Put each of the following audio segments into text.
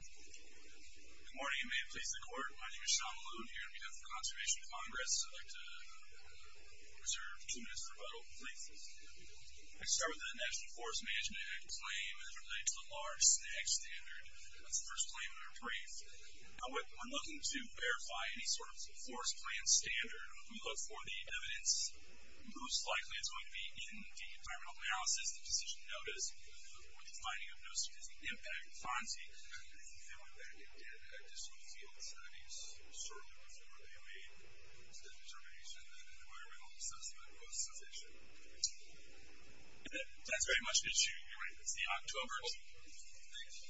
Good morning, and may it please the Court, my name is Sean Malone, here on behalf of the Conservation Congress. I'd like to reserve a few minutes for rebuttal, please. I'd like to start with the National Forest Management Act claim as related to the large stack standard. That's the first claim in our brief. Now, I'm looking to verify any sort of forest plan standard. We look for the evidence. Most likely, it's going to be in the environmental analysis, the decision notice, or the finding of no specific impact. Fonzie, can you fill in that? I just want to feel the studies shortly before they made the determination that environmental assessment was sufficient. That's very much an issue. You're right, it's the October 2nd.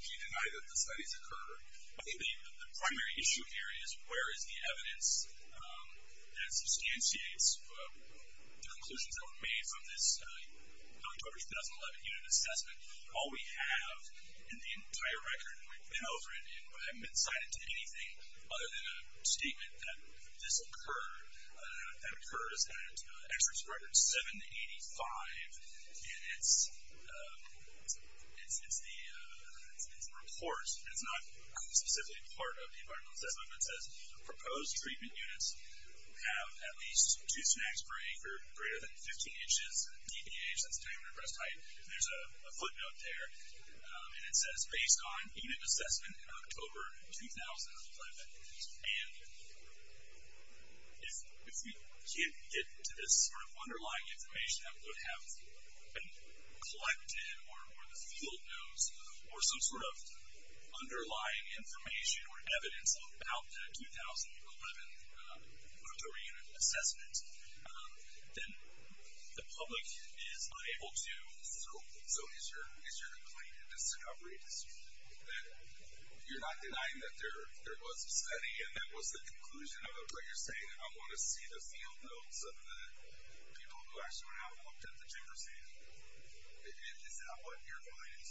Can you deny that the studies occur? I think the primary issue here is where is the evidence that substantiates the conclusions that were made from this October 2011 unit assessment. All we have in the entire record, and we've been over it, and we haven't been cited to anything other than a statement that this occurs. This was at experts record 785, and it's in the report, and it's not specifically part of the environmental assessment, but it says proposed treatment units have at least two snacks per acre greater than 15 inches of DPH, that's diameter of breast height. There's a footnote there, and it says based on unit assessment in October 2011. If we can't get to this sort of underlying information that would have been collected, or the field knows, or some sort of underlying information or evidence about the 2011 October unit assessment, then the public is unable to. So is your complaint a discovery? That you're not denying that there was a study, and that was the conclusion of it, but you're saying I want to see the field notes of the people who actually went out and looked at the ticker stand. Is that what you're finding?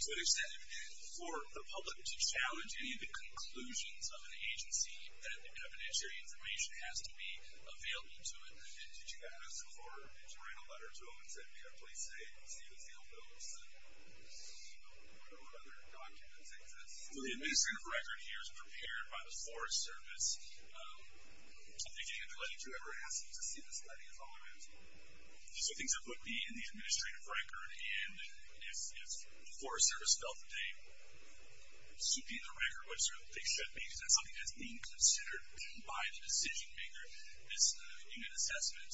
To what extent, for the public to challenge any of the conclusions of an agency that evidentiary information has to be available to it, did you ask for, did you write a letter to them and say, please say you want to see the field notes, and what other documents exist? Well, the administrative record here is prepared by the Forest Service. At the beginning of the letter, whoever asked you to see this study is all around you. So things are put in the administrative record, and if the Forest Service felt that they should be in the record, which they should be, because that's something that's being considered by the decision maker, this unit assessment,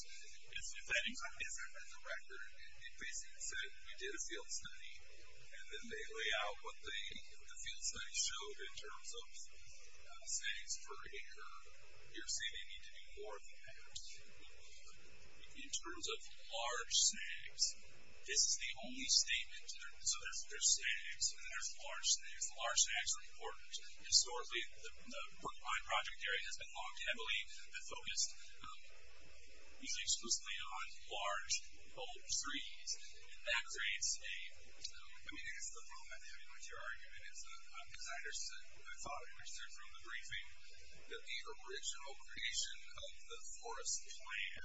if that is not in the record, it basically said we did a field study, and then they lay out what the field study showed in terms of, say, you're saying they need to do more of that. In terms of large sags, this is the only statement. So there's sags, and there's large sags. The large sags are important. Historically, the Brookbine project area has been long and heavily focused usually exclusively on large old trees, and that creates a, I mean, it's the problem with your argument. I thought I understood from the briefing that the original creation of the forest plan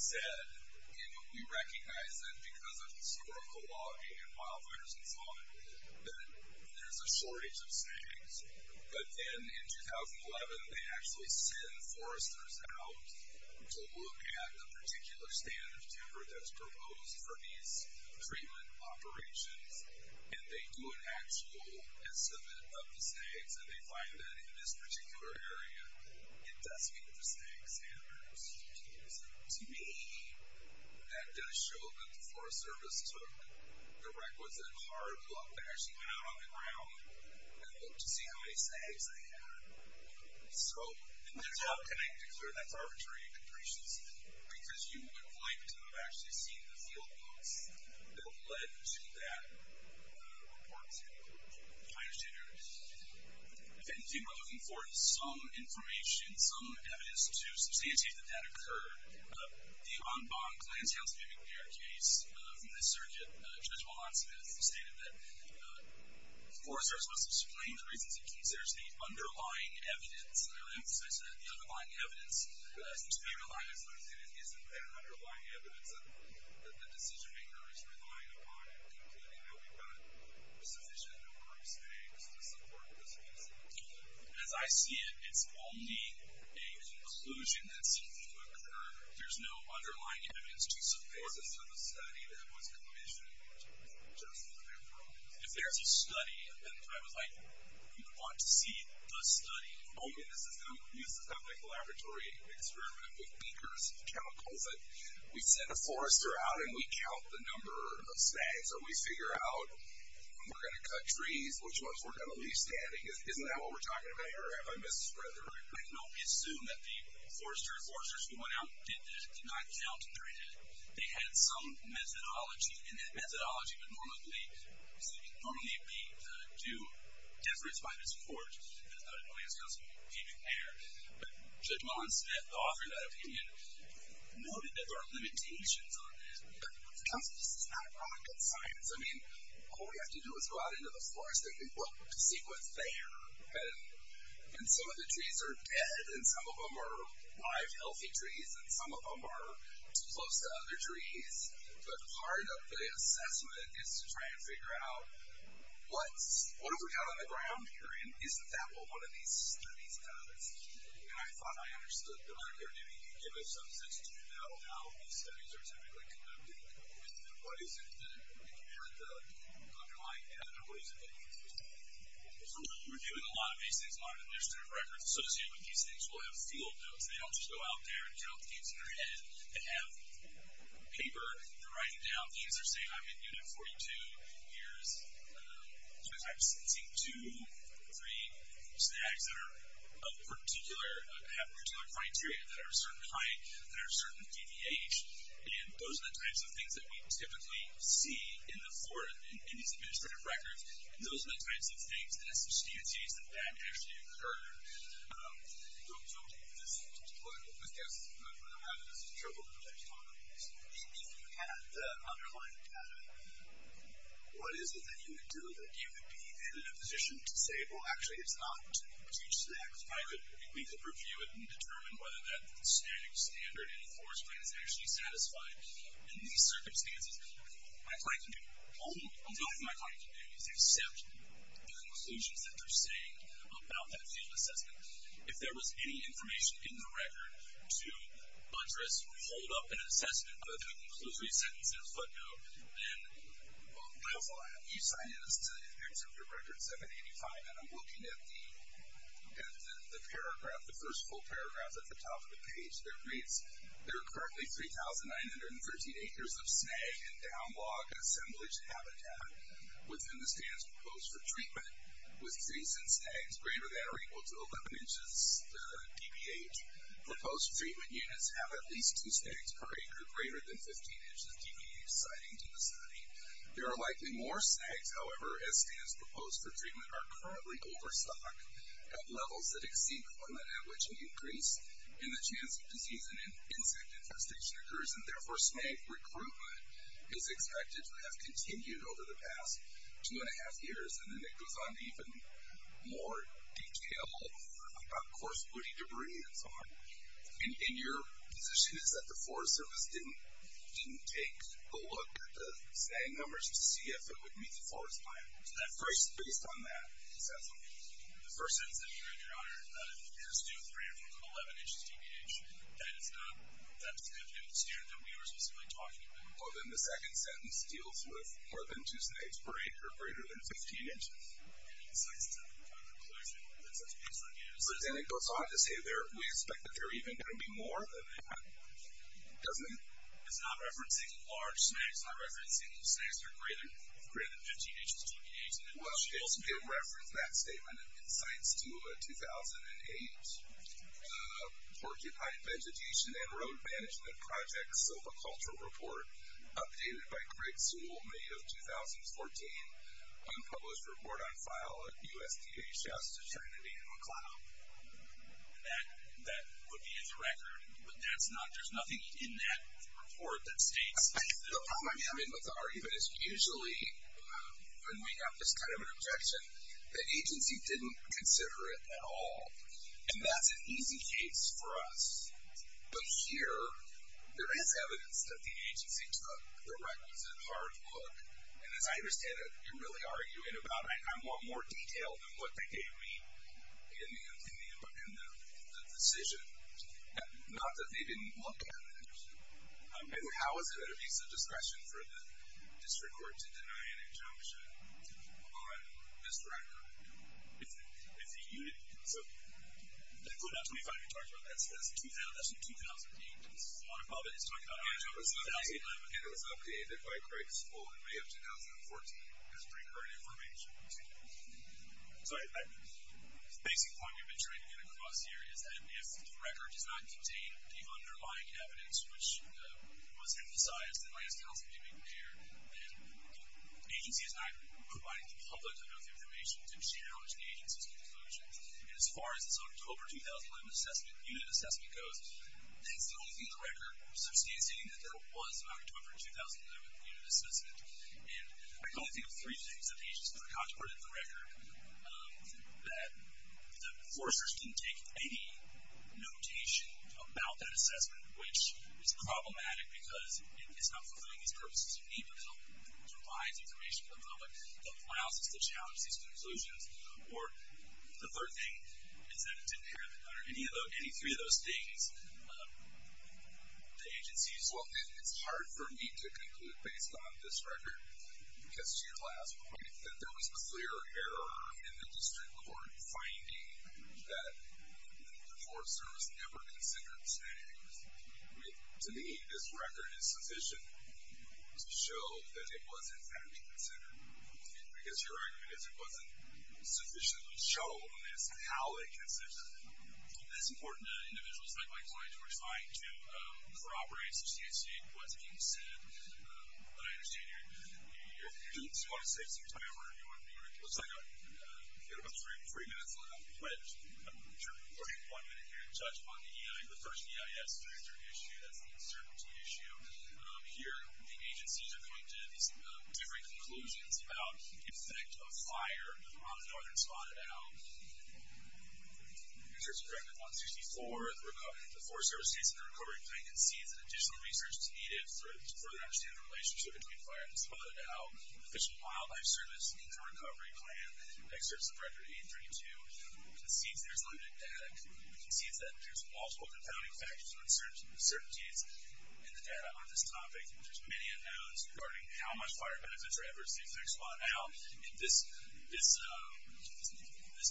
said, and we recognize that because of historical logging and wildfires and so on, that there's a shortage of sags. But then in 2011, they actually send foresters out to look at the particular standard of timber that's proposed for these treatment operations, and they do an actual estimate of the sags, and they find that in this particular area, it does meet the sags standards. To me, that does show that the Forest Service took the records in hard luck and actually went out on the ground and looked to see how many sags they had. So there's no connection there. That's arbitrary and depreciation, because you would like to have actually seen the field books that led to that report to find a standard. If anything, we're looking forward to some information, some evidence to substantiate that that occurred. The Ombong-Glantz-House-Mimic-Mirror case from the circuit, Judge Willotsmith, stated that the Forest Service must explain the reasons it considers the underlying evidence and really emphasize that the underlying evidence has to be reliable. It isn't an underlying evidence that the decision-maker is relying upon, including that we've got a sufficient number of sags to support this case. As I see it, it's only a conclusion that seems to occur. There's no underlying evidence to support it. Or is it some study that was commissioned just for the paper? If there's a study, and I would like to see the study, only in the use of a laboratory experiment with beakers and chemicals, that we send a forester out and we count the number of sags, or we figure out when we're going to cut trees, which ones we're going to leave standing. Isn't that what we're talking about here? Or have I missed a spreader? I don't assume that the foresters who went out did this did not count, and they're in it. They had some methodology, and that methodology would normally be to deference by this court. I don't think it's possible even there. But Judge Mullins-Smith, the author of that opinion, noted that there are limitations on this. This is not rocket science. I mean, all we have to do is go out into the forest and look to see what's there. And some of the trees are dead, and some of them are live, healthy trees, and some of them are too close to other trees. But part of the assessment is to try and figure out what have we got on the ground here, and isn't that what one of these studies does? And I thought I understood earlier. Maybe you can give us some sense to know how these studies are typically conducted. What is it that you have done? Underline that, or what is it that you've done? We're doing a lot of these things on administrative records associated with these things. We'll have field notes. They don't just go out there and drop things in their head. They have paper. They're writing down things. They're saying, I'm in Unit 42. Here's two types. I'm seeing two or three snags that have particular criteria that are a certain height, that are a certain DDH. And those are the types of things that we typically see in these administrative records, and those are the types of things that that actually occurred. Don't leave this deployed. I guess my point about it is it's a trickle, but there's problems. If you had the underlying data, what is it that you would do? That you would be in a position to say, well, actually, it's not to teach that. We could review it and determine whether that standard enforced plan is actually satisfied. In these circumstances, my client community, all of my client communities accept the conclusions that they're saying about that field assessment. If there was any information in the record to address or hold up an assessment for the conclusory sentence in a footnote, then, well, you sign it as an executive record 785, and I'm looking at the paragraph, the first full paragraph at the top of the page that reads, there are currently 3,913 acres of snag and down log assemblage habitat within the stands proposed for treatment with trees and snags greater than or equal to 11 inches dbh. Proposed treatment units have at least two snags per acre greater than 15 inches dbh, citing to the study. There are likely more snags, however, as stands proposed for treatment are currently overstocked at levels that exceed climate, at which an increase in the chance of disease and insect infestation occurs, and therefore, snag recruitment is expected to have continued over the past 2 1⁄2 years, and then it goes on to even more detail about coarse woody debris and so on. And your position is that the Forest Service didn't take a look at the snag numbers to see if it would meet the forest plan? That phrase is based on that assessment. The first sentence that you read, Your Honor, is 2,311 inches dbh, and it's not, that's the good news here that we were specifically talking about. Well, then the second sentence deals with more than two snags per acre greater than 15 inches. The second sentence doesn't provide a conclusion. That's the concern here. But then it goes on to say we expect that there are even going to be more than that. It's not referencing large snags. It's not referencing snags that are greater than 15 inches dbh. Well, it also didn't reference that statement. It cites to a 2008 porcupine vegetation and road management project as of a cultural report updated by Greg Sewell, May of 2014, unpublished report on file at U.S. DHS to China Data and Cloud. That would be its record, but that's not, there's nothing in that report that states that. The problem I'm having with the argument is usually when we have this kind of an objection, the agency didn't consider it at all. And that's an easy case for us. But here, there is evidence that the agency took the requisite hard look. And as I understand it, you're really arguing about I want more detail than what they gave me in the decision, not that they didn't look at it. How is it at a piece of discretion for the district court to deny an injunction on this record? It's a unit. So, that's not 2005 you're talking about. That's from 2008. The one above it is talking about 2011. And it was updated by Greg Sewell in May of 2014 as pre-current information. Sorry. The basic point we've been trying to get across here is that if the record does not contain the underlying evidence, which was emphasized in last council meeting there, then the agency is not providing the public enough information to challenge the agency's conclusions. And as far as this October 2011 unit assessment goes, that's the only thing in the record substantiating that there was an October 2011 unit assessment. And I can only think of three things that the agency put in the record, that the enforcers didn't take any notation about that assessment, which is problematic because it's not fulfilling these purposes you need, but it provides information to the public that allows us to challenge these conclusions. Or the third thing is that it didn't have, under any three of those things, the agency's... Well, it's hard for me to conclude based on this record, because to your last point, that there was clear error in the district court finding that the enforcers never considered To me, this record is sufficient to show that it was, in fact, considered. Because your argument is it wasn't sufficiently shown as to how it consisted. It's important to individuals. Like my clients, we're trying to corroborate. So CSC wasn't considered. But I understand your... Do you want to take some time? It looks like we've got about three minutes left. We're going to take one minute here to touch upon the EIS, the first EIS. That's a very important issue. That's an uncertainty issue. Here, the agencies are going to have these different conclusions about the effect of fire on the northern spot, about the effects of Record 164, the Forest Service States and the recovery plan, and see if additional research is needed to further understand the relationship between fire and the spot, and also how the Fish and Wildlife Service Inter-Recovery Plan, Excerpts of Record 832, concedes there's limited data. It concedes that there's multiple compounding factors or uncertainties in the data on this topic. There's many unknowns regarding how much fire benefits are at risk of the northern spot now. And this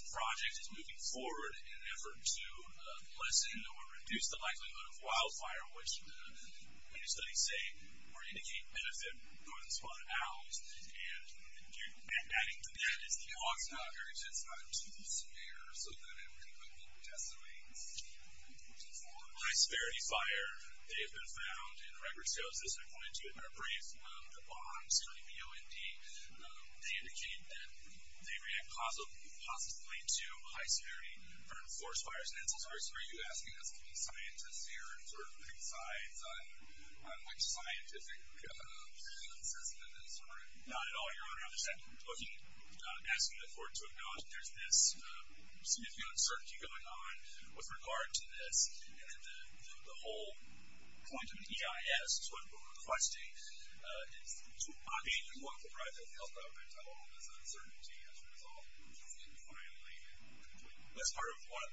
project is moving forward in an effort to lessen or reduce the likelihood of wildfire, which many studies say will indicate benefit for northern spot owls. And adding to that is the logs not very dense, not too severe, so that we're going to put a little bit of testimony to move forward. High-severity fire, they have been found in record sales. This is according to our brief. The bonds, including the OND, they indicate that they react positively to high-severity forest fires. Mr. Nitzelsberg, so are you asking us to be scientists here, and sort of pick sides on which scientific assessment is not at all your honor? I'm just asking the board to acknowledge that there's this significant uncertainty going on with regard to this, and that the whole quantum EIS is what we're requesting. It's not being looked at by the health government at all as uncertainty as a result. That's part of what?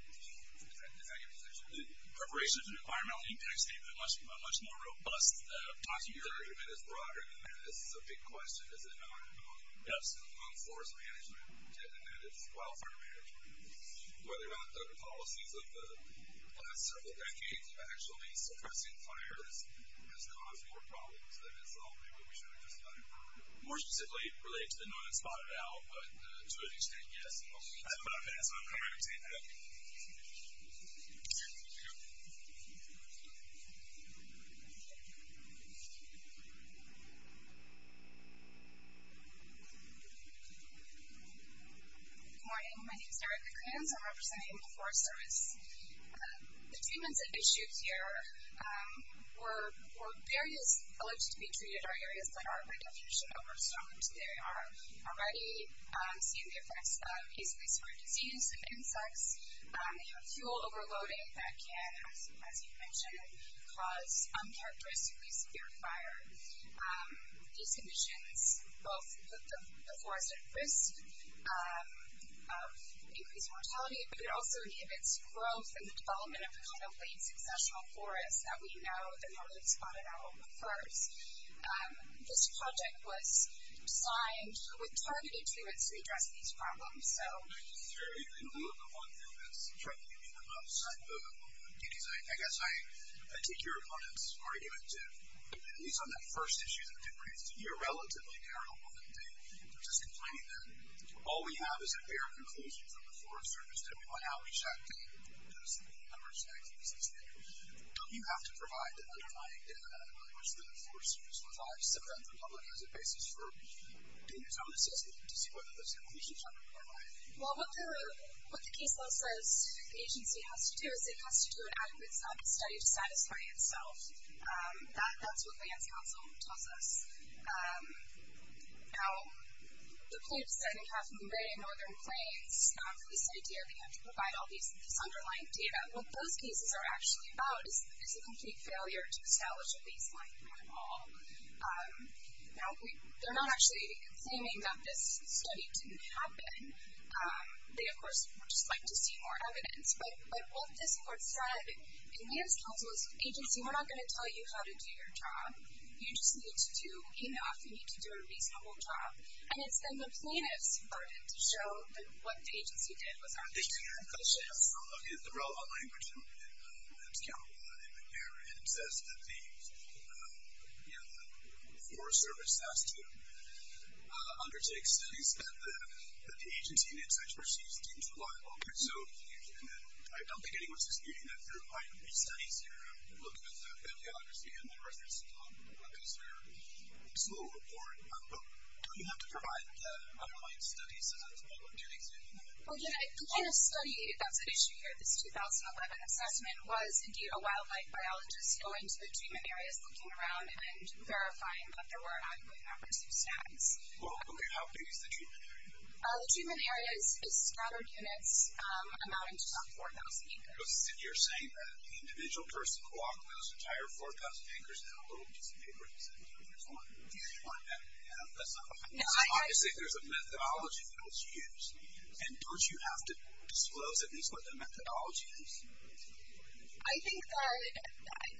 Preparation for the environmental impact statement, a much more robust document. Your argument is broader than that. This is a big question. Is it not? Yes. On forest management and its wildfire management. Whether or not the policies of the last several decades of actually suppressing fires has caused more problems than has solved what we should have just done. More specifically, related to the non-spotted owl, but to an extent, yes. I'm going to pass on that. Good morning. My name is Erica Kranz. I'm representing the Forest Service. The treatments issued here were various alleged to be treated are areas that are, by definition, overstormed. They are already seeing the effects of basically spread disease and insects. They have fuel overloading that can, as you mentioned, cause uncharacteristically severe fire. These conditions both put the forest at risk of increased mortality, but it also inhibits growth and the development of a kind of late successional forest that we know the non-spotted owl prefers. This project was signed with targeted agreements to address these problems. In lieu of the one thing that's threatening me the most, I vote against it. I guess I take your opponent's argument to, at least on that first issue that you raised, to be a relatively terrible one. They're just complaining that all we have is a fair conclusion from the Forest Service. We want to know exactly what those numbers actually say. Don't you have to provide the undermining data? I really wish the Forest Service would provide some of that in the public as a basis for Well, what the case law says the agency has to do is it has to do an adequate study to satisfy itself. That's what Lands Council tells us. Now, the claims that you have from the Northern Plains, this idea that you have to provide all this underlying data, what those cases are actually about is a complete failure to establish a baseline for it all. Now, they're not actually complaining that this study didn't happen. They, of course, would just like to see more evidence. But what this court said in Lands Council is, agency, we're not going to tell you how to do your job. You just need to do a reasonable job. And it's been the plaintiffs who started to show what the agency did was not the case. I have a question. I'm from the relevant language in Lands Council. And it says that the Forest Service has to undertake studies that the agency in its expertise deems reliable. And I don't think anyone's disputing that. There are quite a few studies here. I'm looking at the bibliography and the reference at the top because they're slow to report. Do you have to provide the underlying studies as well? Well, again, the kind of study that's at issue here, this 2011 assessment, was indeed a wildlife biologist going to the treatment areas, looking around and verifying that there were adequate adverse effects. Well, okay, how big is the treatment area? The treatment area is scattered units amounting to about 4,000 acres. So you're saying that the individual person co-operates with those entire 4,000 acres in a little piece of paper that's a few years long? Yes. Okay. So you're saying there's a methodology that's used, and don't you have to disclose at least what the methodology is? I think that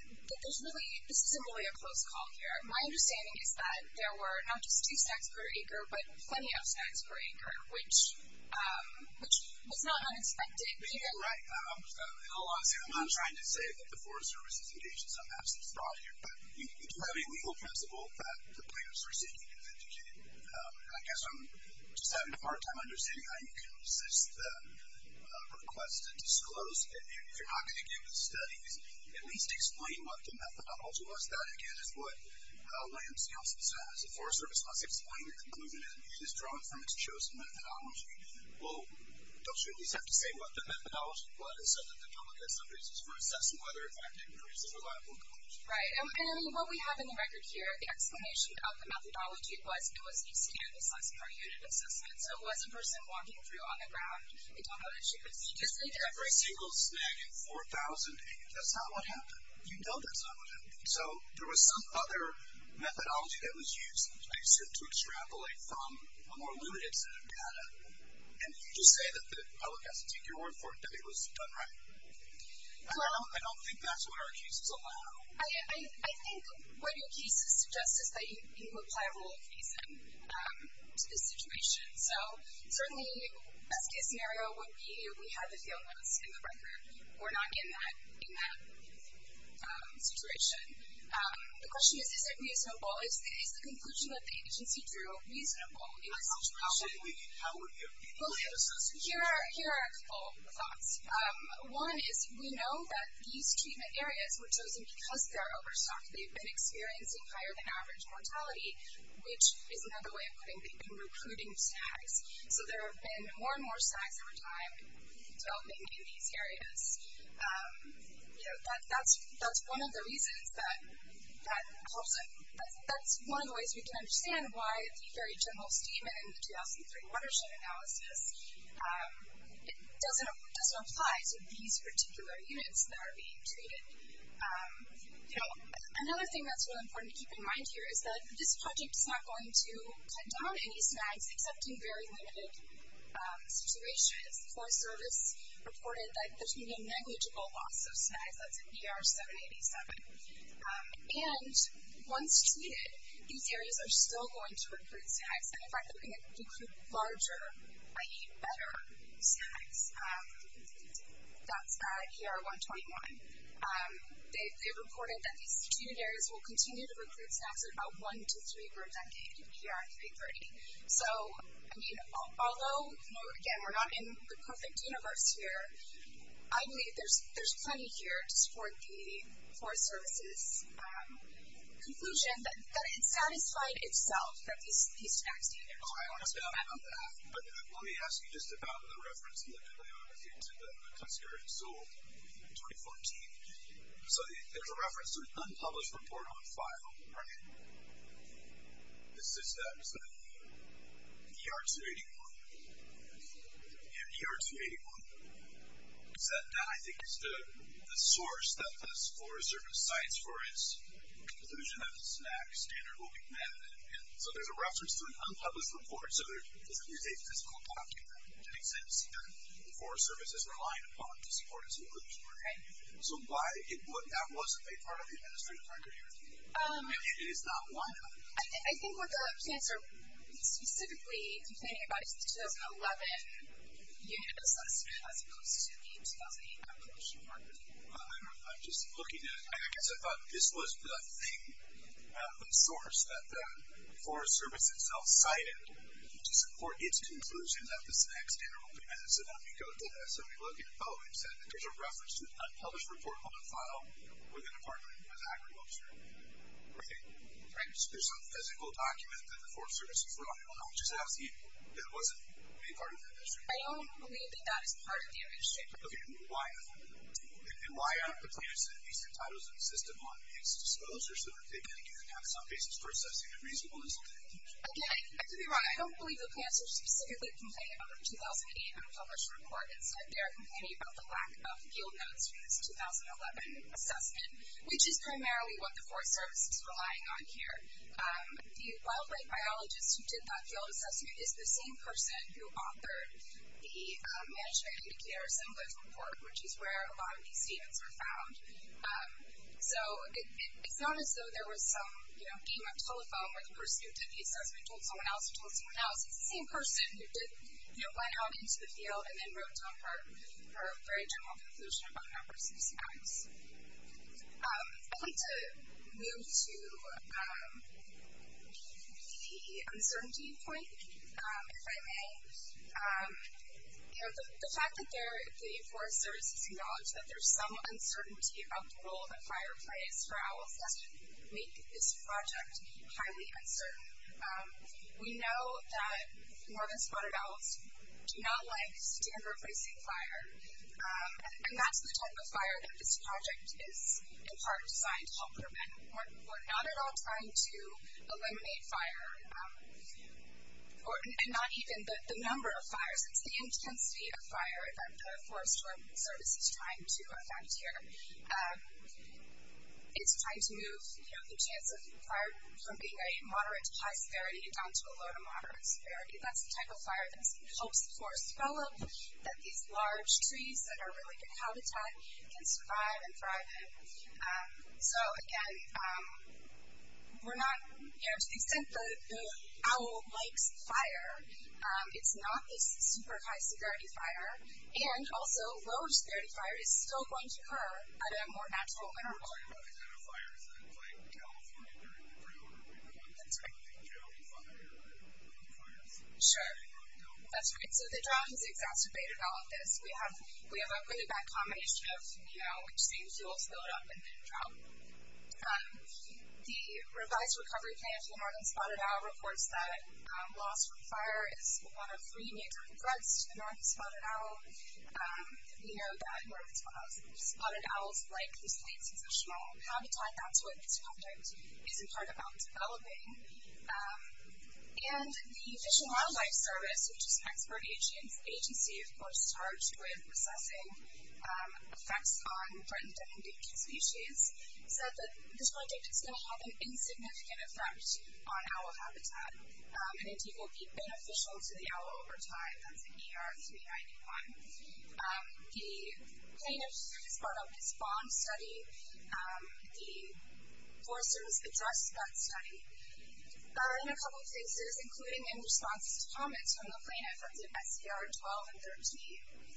there's really – this isn't really a close call here. My understanding is that there were not just two stacks per acre, but plenty of stacks per acre, which was not unexpected. But you're right. I'm not trying to say that the Forest Service is engaged in some absence fraud here. But you do have a legal principle that the planners are seeking to educate. I guess I'm just having a hard time understanding how you consist of requests to disclose. If you're not going to give the studies, at least explain what the methodology was. That, again, is what William C. also said as the Forest Service. Let's explain your conclusion as it is drawn from its chosen methodology. Well, don't you at least have to say what the methodology was for assessing whether or not it increases reliable coverage? Right. And, I mean, what we have in the record here, the explanation of the methodology, was it was easy to do the size of our unit assessment. So it wasn't a person walking through on the ground. They don't know that she could see. Just say they're every single stack in 4,000 acres. That's not what happened. You know that's not what happened. So there was some other methodology that was used, like you said, to extrapolate from a more limited set of data. And you just say that the public has to take your word for it that it was done right. Correct. I don't think that's what our cases allow. I think what your case suggests is that you apply rule of reason to this situation. So, certainly, the best case scenario would be if we had the field notes in the record or not in that situation. The question is, is it reasonable? Is the conclusion that the agency drew reasonable in this situation? Well, here are a couple of thoughts. One is we know that these treatment areas were chosen because they're overstocked. They've been experiencing higher than average mortality, which is another way of putting it. They've been recruiting stacks. So there have been more and more stacks over time developing in these areas. You know, that's one of the reasons that holds it. That's one of the ways we can understand why the very general statement in the 2003 watershed analysis doesn't apply to these particular units that are being treated. You know, another thing that's really important to keep in mind here is that this project is not going to cut down any snags, except in very limited situations. The Forest Service reported that there's going to be a negligible loss of snags. That's in ER 787. And once treated, these areas are still going to recruit snags. And, in fact, they're going to recruit larger, i.e. better, snags. That's at ER 121. They've reported that these treatment areas will continue to recruit snags at about one to three per decade in ER 330. So, I mean, although, again, we're not in the perfect universe here, I believe there's plenty here to support the Forest Service's conclusion that it satisfied itself that these snag standards are going to be met. But let me ask you just about the reference to the Tuscarora Zoo in 2014. So there's a reference to an unpublished report on file, right? This is that ER 281. Yeah, ER 281. That, I think, is the source that the Forest Service cites for its conclusion that the snag standard will be met. And so there's a reference to an unpublished report. So there's a physical document that makes sense here that the Forest Service is relying upon to support its conclusion. So that wasn't a part of the administrative record here? It is not one of them? I think what the plants are specifically complaining about is the 2011 unit assessment as opposed to the 2008 published report. I don't know. I'm just looking at it. I guess I thought this was the source that the Forest Service itself cited to support its conclusion that the snag standard will be met. So let me go to that. So we look at, oh, it said that there's a reference to an unpublished report on file with an apartment with agriculture. Right. So there's a physical document that the Forest Service is relying upon. I'm just asking if that wasn't a part of the administrative record. I don't believe that that is part of the administrative record. Okay. And why aren't the plants at least entitled to insist upon its disclosure so that they can again have some basis for assessing a reasonable incident? Again, I could be wrong. I don't believe the plants are specifically complaining about the 2008 unpublished report. Instead, they are complaining about the lack of yield notes for this 2011 assessment, which is primarily what the Forest Service is relying on here. The wildlife biologist who did that field assessment is the same person who authored the Management and Educator Assemblies report, which is where a lot of these events were found. So it's not as though there was some, you know, game of telephone where the person who did the assessment told someone else or told someone else. It's the same person who did, you know, went out into the field and then wrote down her very general conclusion about how birds can see owls. I'd like to move to the uncertainty point, if I may. You know, the fact that the Forest Service has acknowledged that there's some uncertainty about the role that fire play is for owls doesn't make this project highly uncertain. We know that northern spotted owls do not like standard placing fire, and that's the type of fire that this project is in part designed to help prevent. We're not at all trying to eliminate fire, and not even the number of fires. It's the intensity of fire that the Forest Service is trying to affect here. It's trying to move, you know, the chance of fire from being a moderate to high severity down to a low to moderate severity. That's the type of fire that helps the forest develop, that these large trees that are really good habitat can survive and thrive in. So, again, we're not, you know, to the extent the owl likes fire, it's not this super high severity fire. And, also, low severity fire is still going to occur at a more natural interval. Sure. That's right. So the drought has exacerbated all of this. We have a really bad combination of, you know, we just need fuel to build up and then drought. The revised recovery plan for the northern spotted owl reports that loss from fire is one of three major threats to the northern spotted owl. We know that northern spotted owls like these places with small habitat. That's what this project is, in part, about developing. And the Fish and Wildlife Service, which is an expert agency, of course, charged with assessing effects on threatened and endangered species, said that this project is going to have an insignificant effect on owl habitat. And it will be beneficial to the owl over time. That's in ER 391. The plaintiff has brought up this bond study. The Forest Service addressed that study. There are a couple of cases, including in response to comments from the plaintiff, that's in SBIR 12 and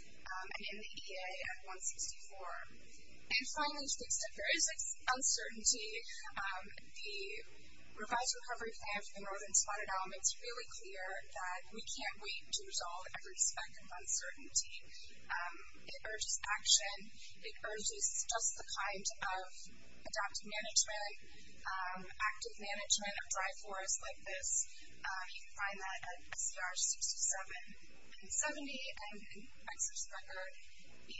13, and in the EA at 164. And, finally, to the extent there is uncertainty, the revised recovery plan for the northern spotted owl makes really clear that we can't wait to resolve every speck of uncertainty. It urges action. It urges just the kind of adaptive management, active management of dry forests like this. You can find that at SBIR 67 and 70, and then Exarch's record, EA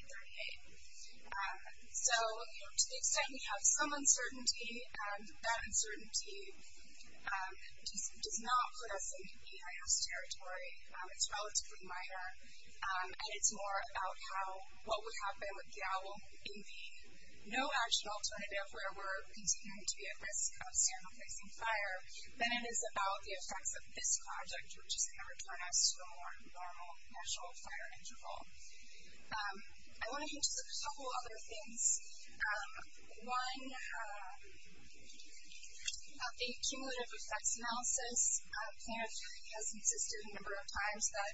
38. So, to the extent we have some uncertainty, and that uncertainty does not put us in EIS territory. It's relatively minor. And it's more about how what would happen with the owl in the no-action alternative, where we're continuing to be at risk of standard-facing fire, than it is about the effects of this project, which is going to return us to a more normal natural fire interval. I want to hint at a couple other things. One, a cumulative effects analysis. The plaintiff has insisted a number of times that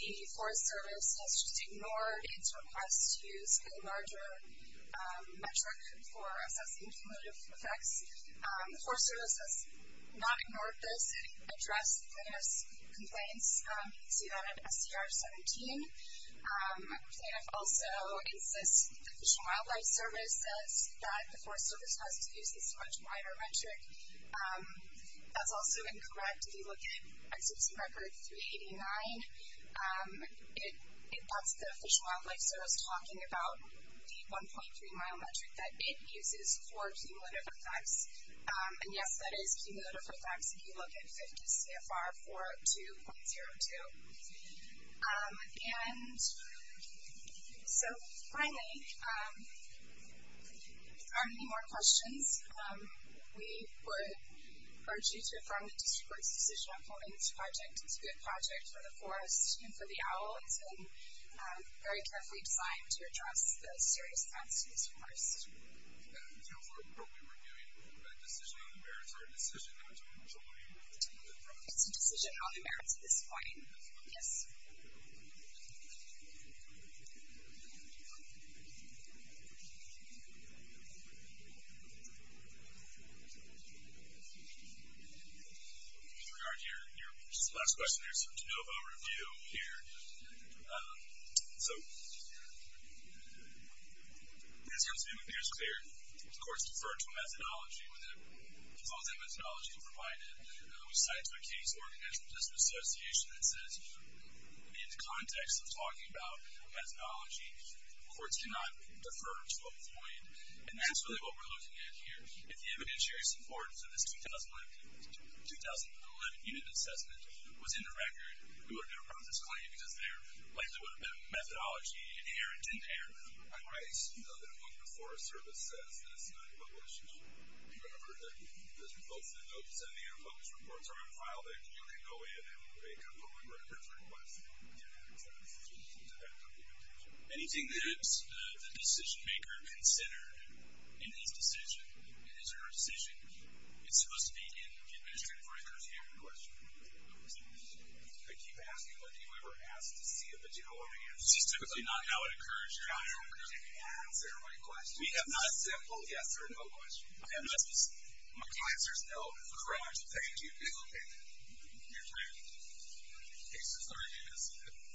the Forest Service has just ignored its request to use a larger metric for assessing cumulative effects. The Forest Service has not ignored this and addressed the plaintiff's complaints. You can see that in SCR 17. The plaintiff also insists the Fish and Wildlife Service says that the Forest Service has to use this much wider metric. That's also incorrect. If you look at Exarch's record 389, that's the Fish and Wildlife Service talking about the 1.3-mile metric that it uses for cumulative effects. And, yes, that is cumulative effects if you look at 50 CFR 402.02. And so, finally, if there aren't any more questions, we would urge you to affirm the District Court's decision on holding this project. It's a good project for the forest and for the owl. It's been very carefully designed to address the serious effects to this forest. Councilor, are we reviewing a decision on the merits or a decision not to enjoy the project? It's a decision on the merits at this point. Yes. With regard to your last question, there's some de novo review here. So, in terms of your review, it's clear. The courts defer to a methodology. With all the methodology provided, we cite to a case organized by the District Association that says, in the context of talking about methodology, courts cannot defer to a point. And that's really what we're looking at here. If the evidentiary support for this 2011 unit assessment was in the record, we wouldn't have brought this claim because there likely would have been a methodology inherent in there. I'm right. You know that a month before a service says that it's not in the record, should you remember that there's a motion to note that's in the air, published reports are on file, that you can go in and make a public record request? Yes. Anything that the decision-maker considered in his decision, in his or her decision, is supposed to be in the administrative record here in question. I keep asking, what do you ever ask to see? But do you know what it is? It's typically not how it occurs. Yeah, I don't know how it occurs. Is there a right question? We have not a simple yes or no question. Okay. Unless my client says, oh, correct. Thank you. It's okay. Your time is up. Case is organized.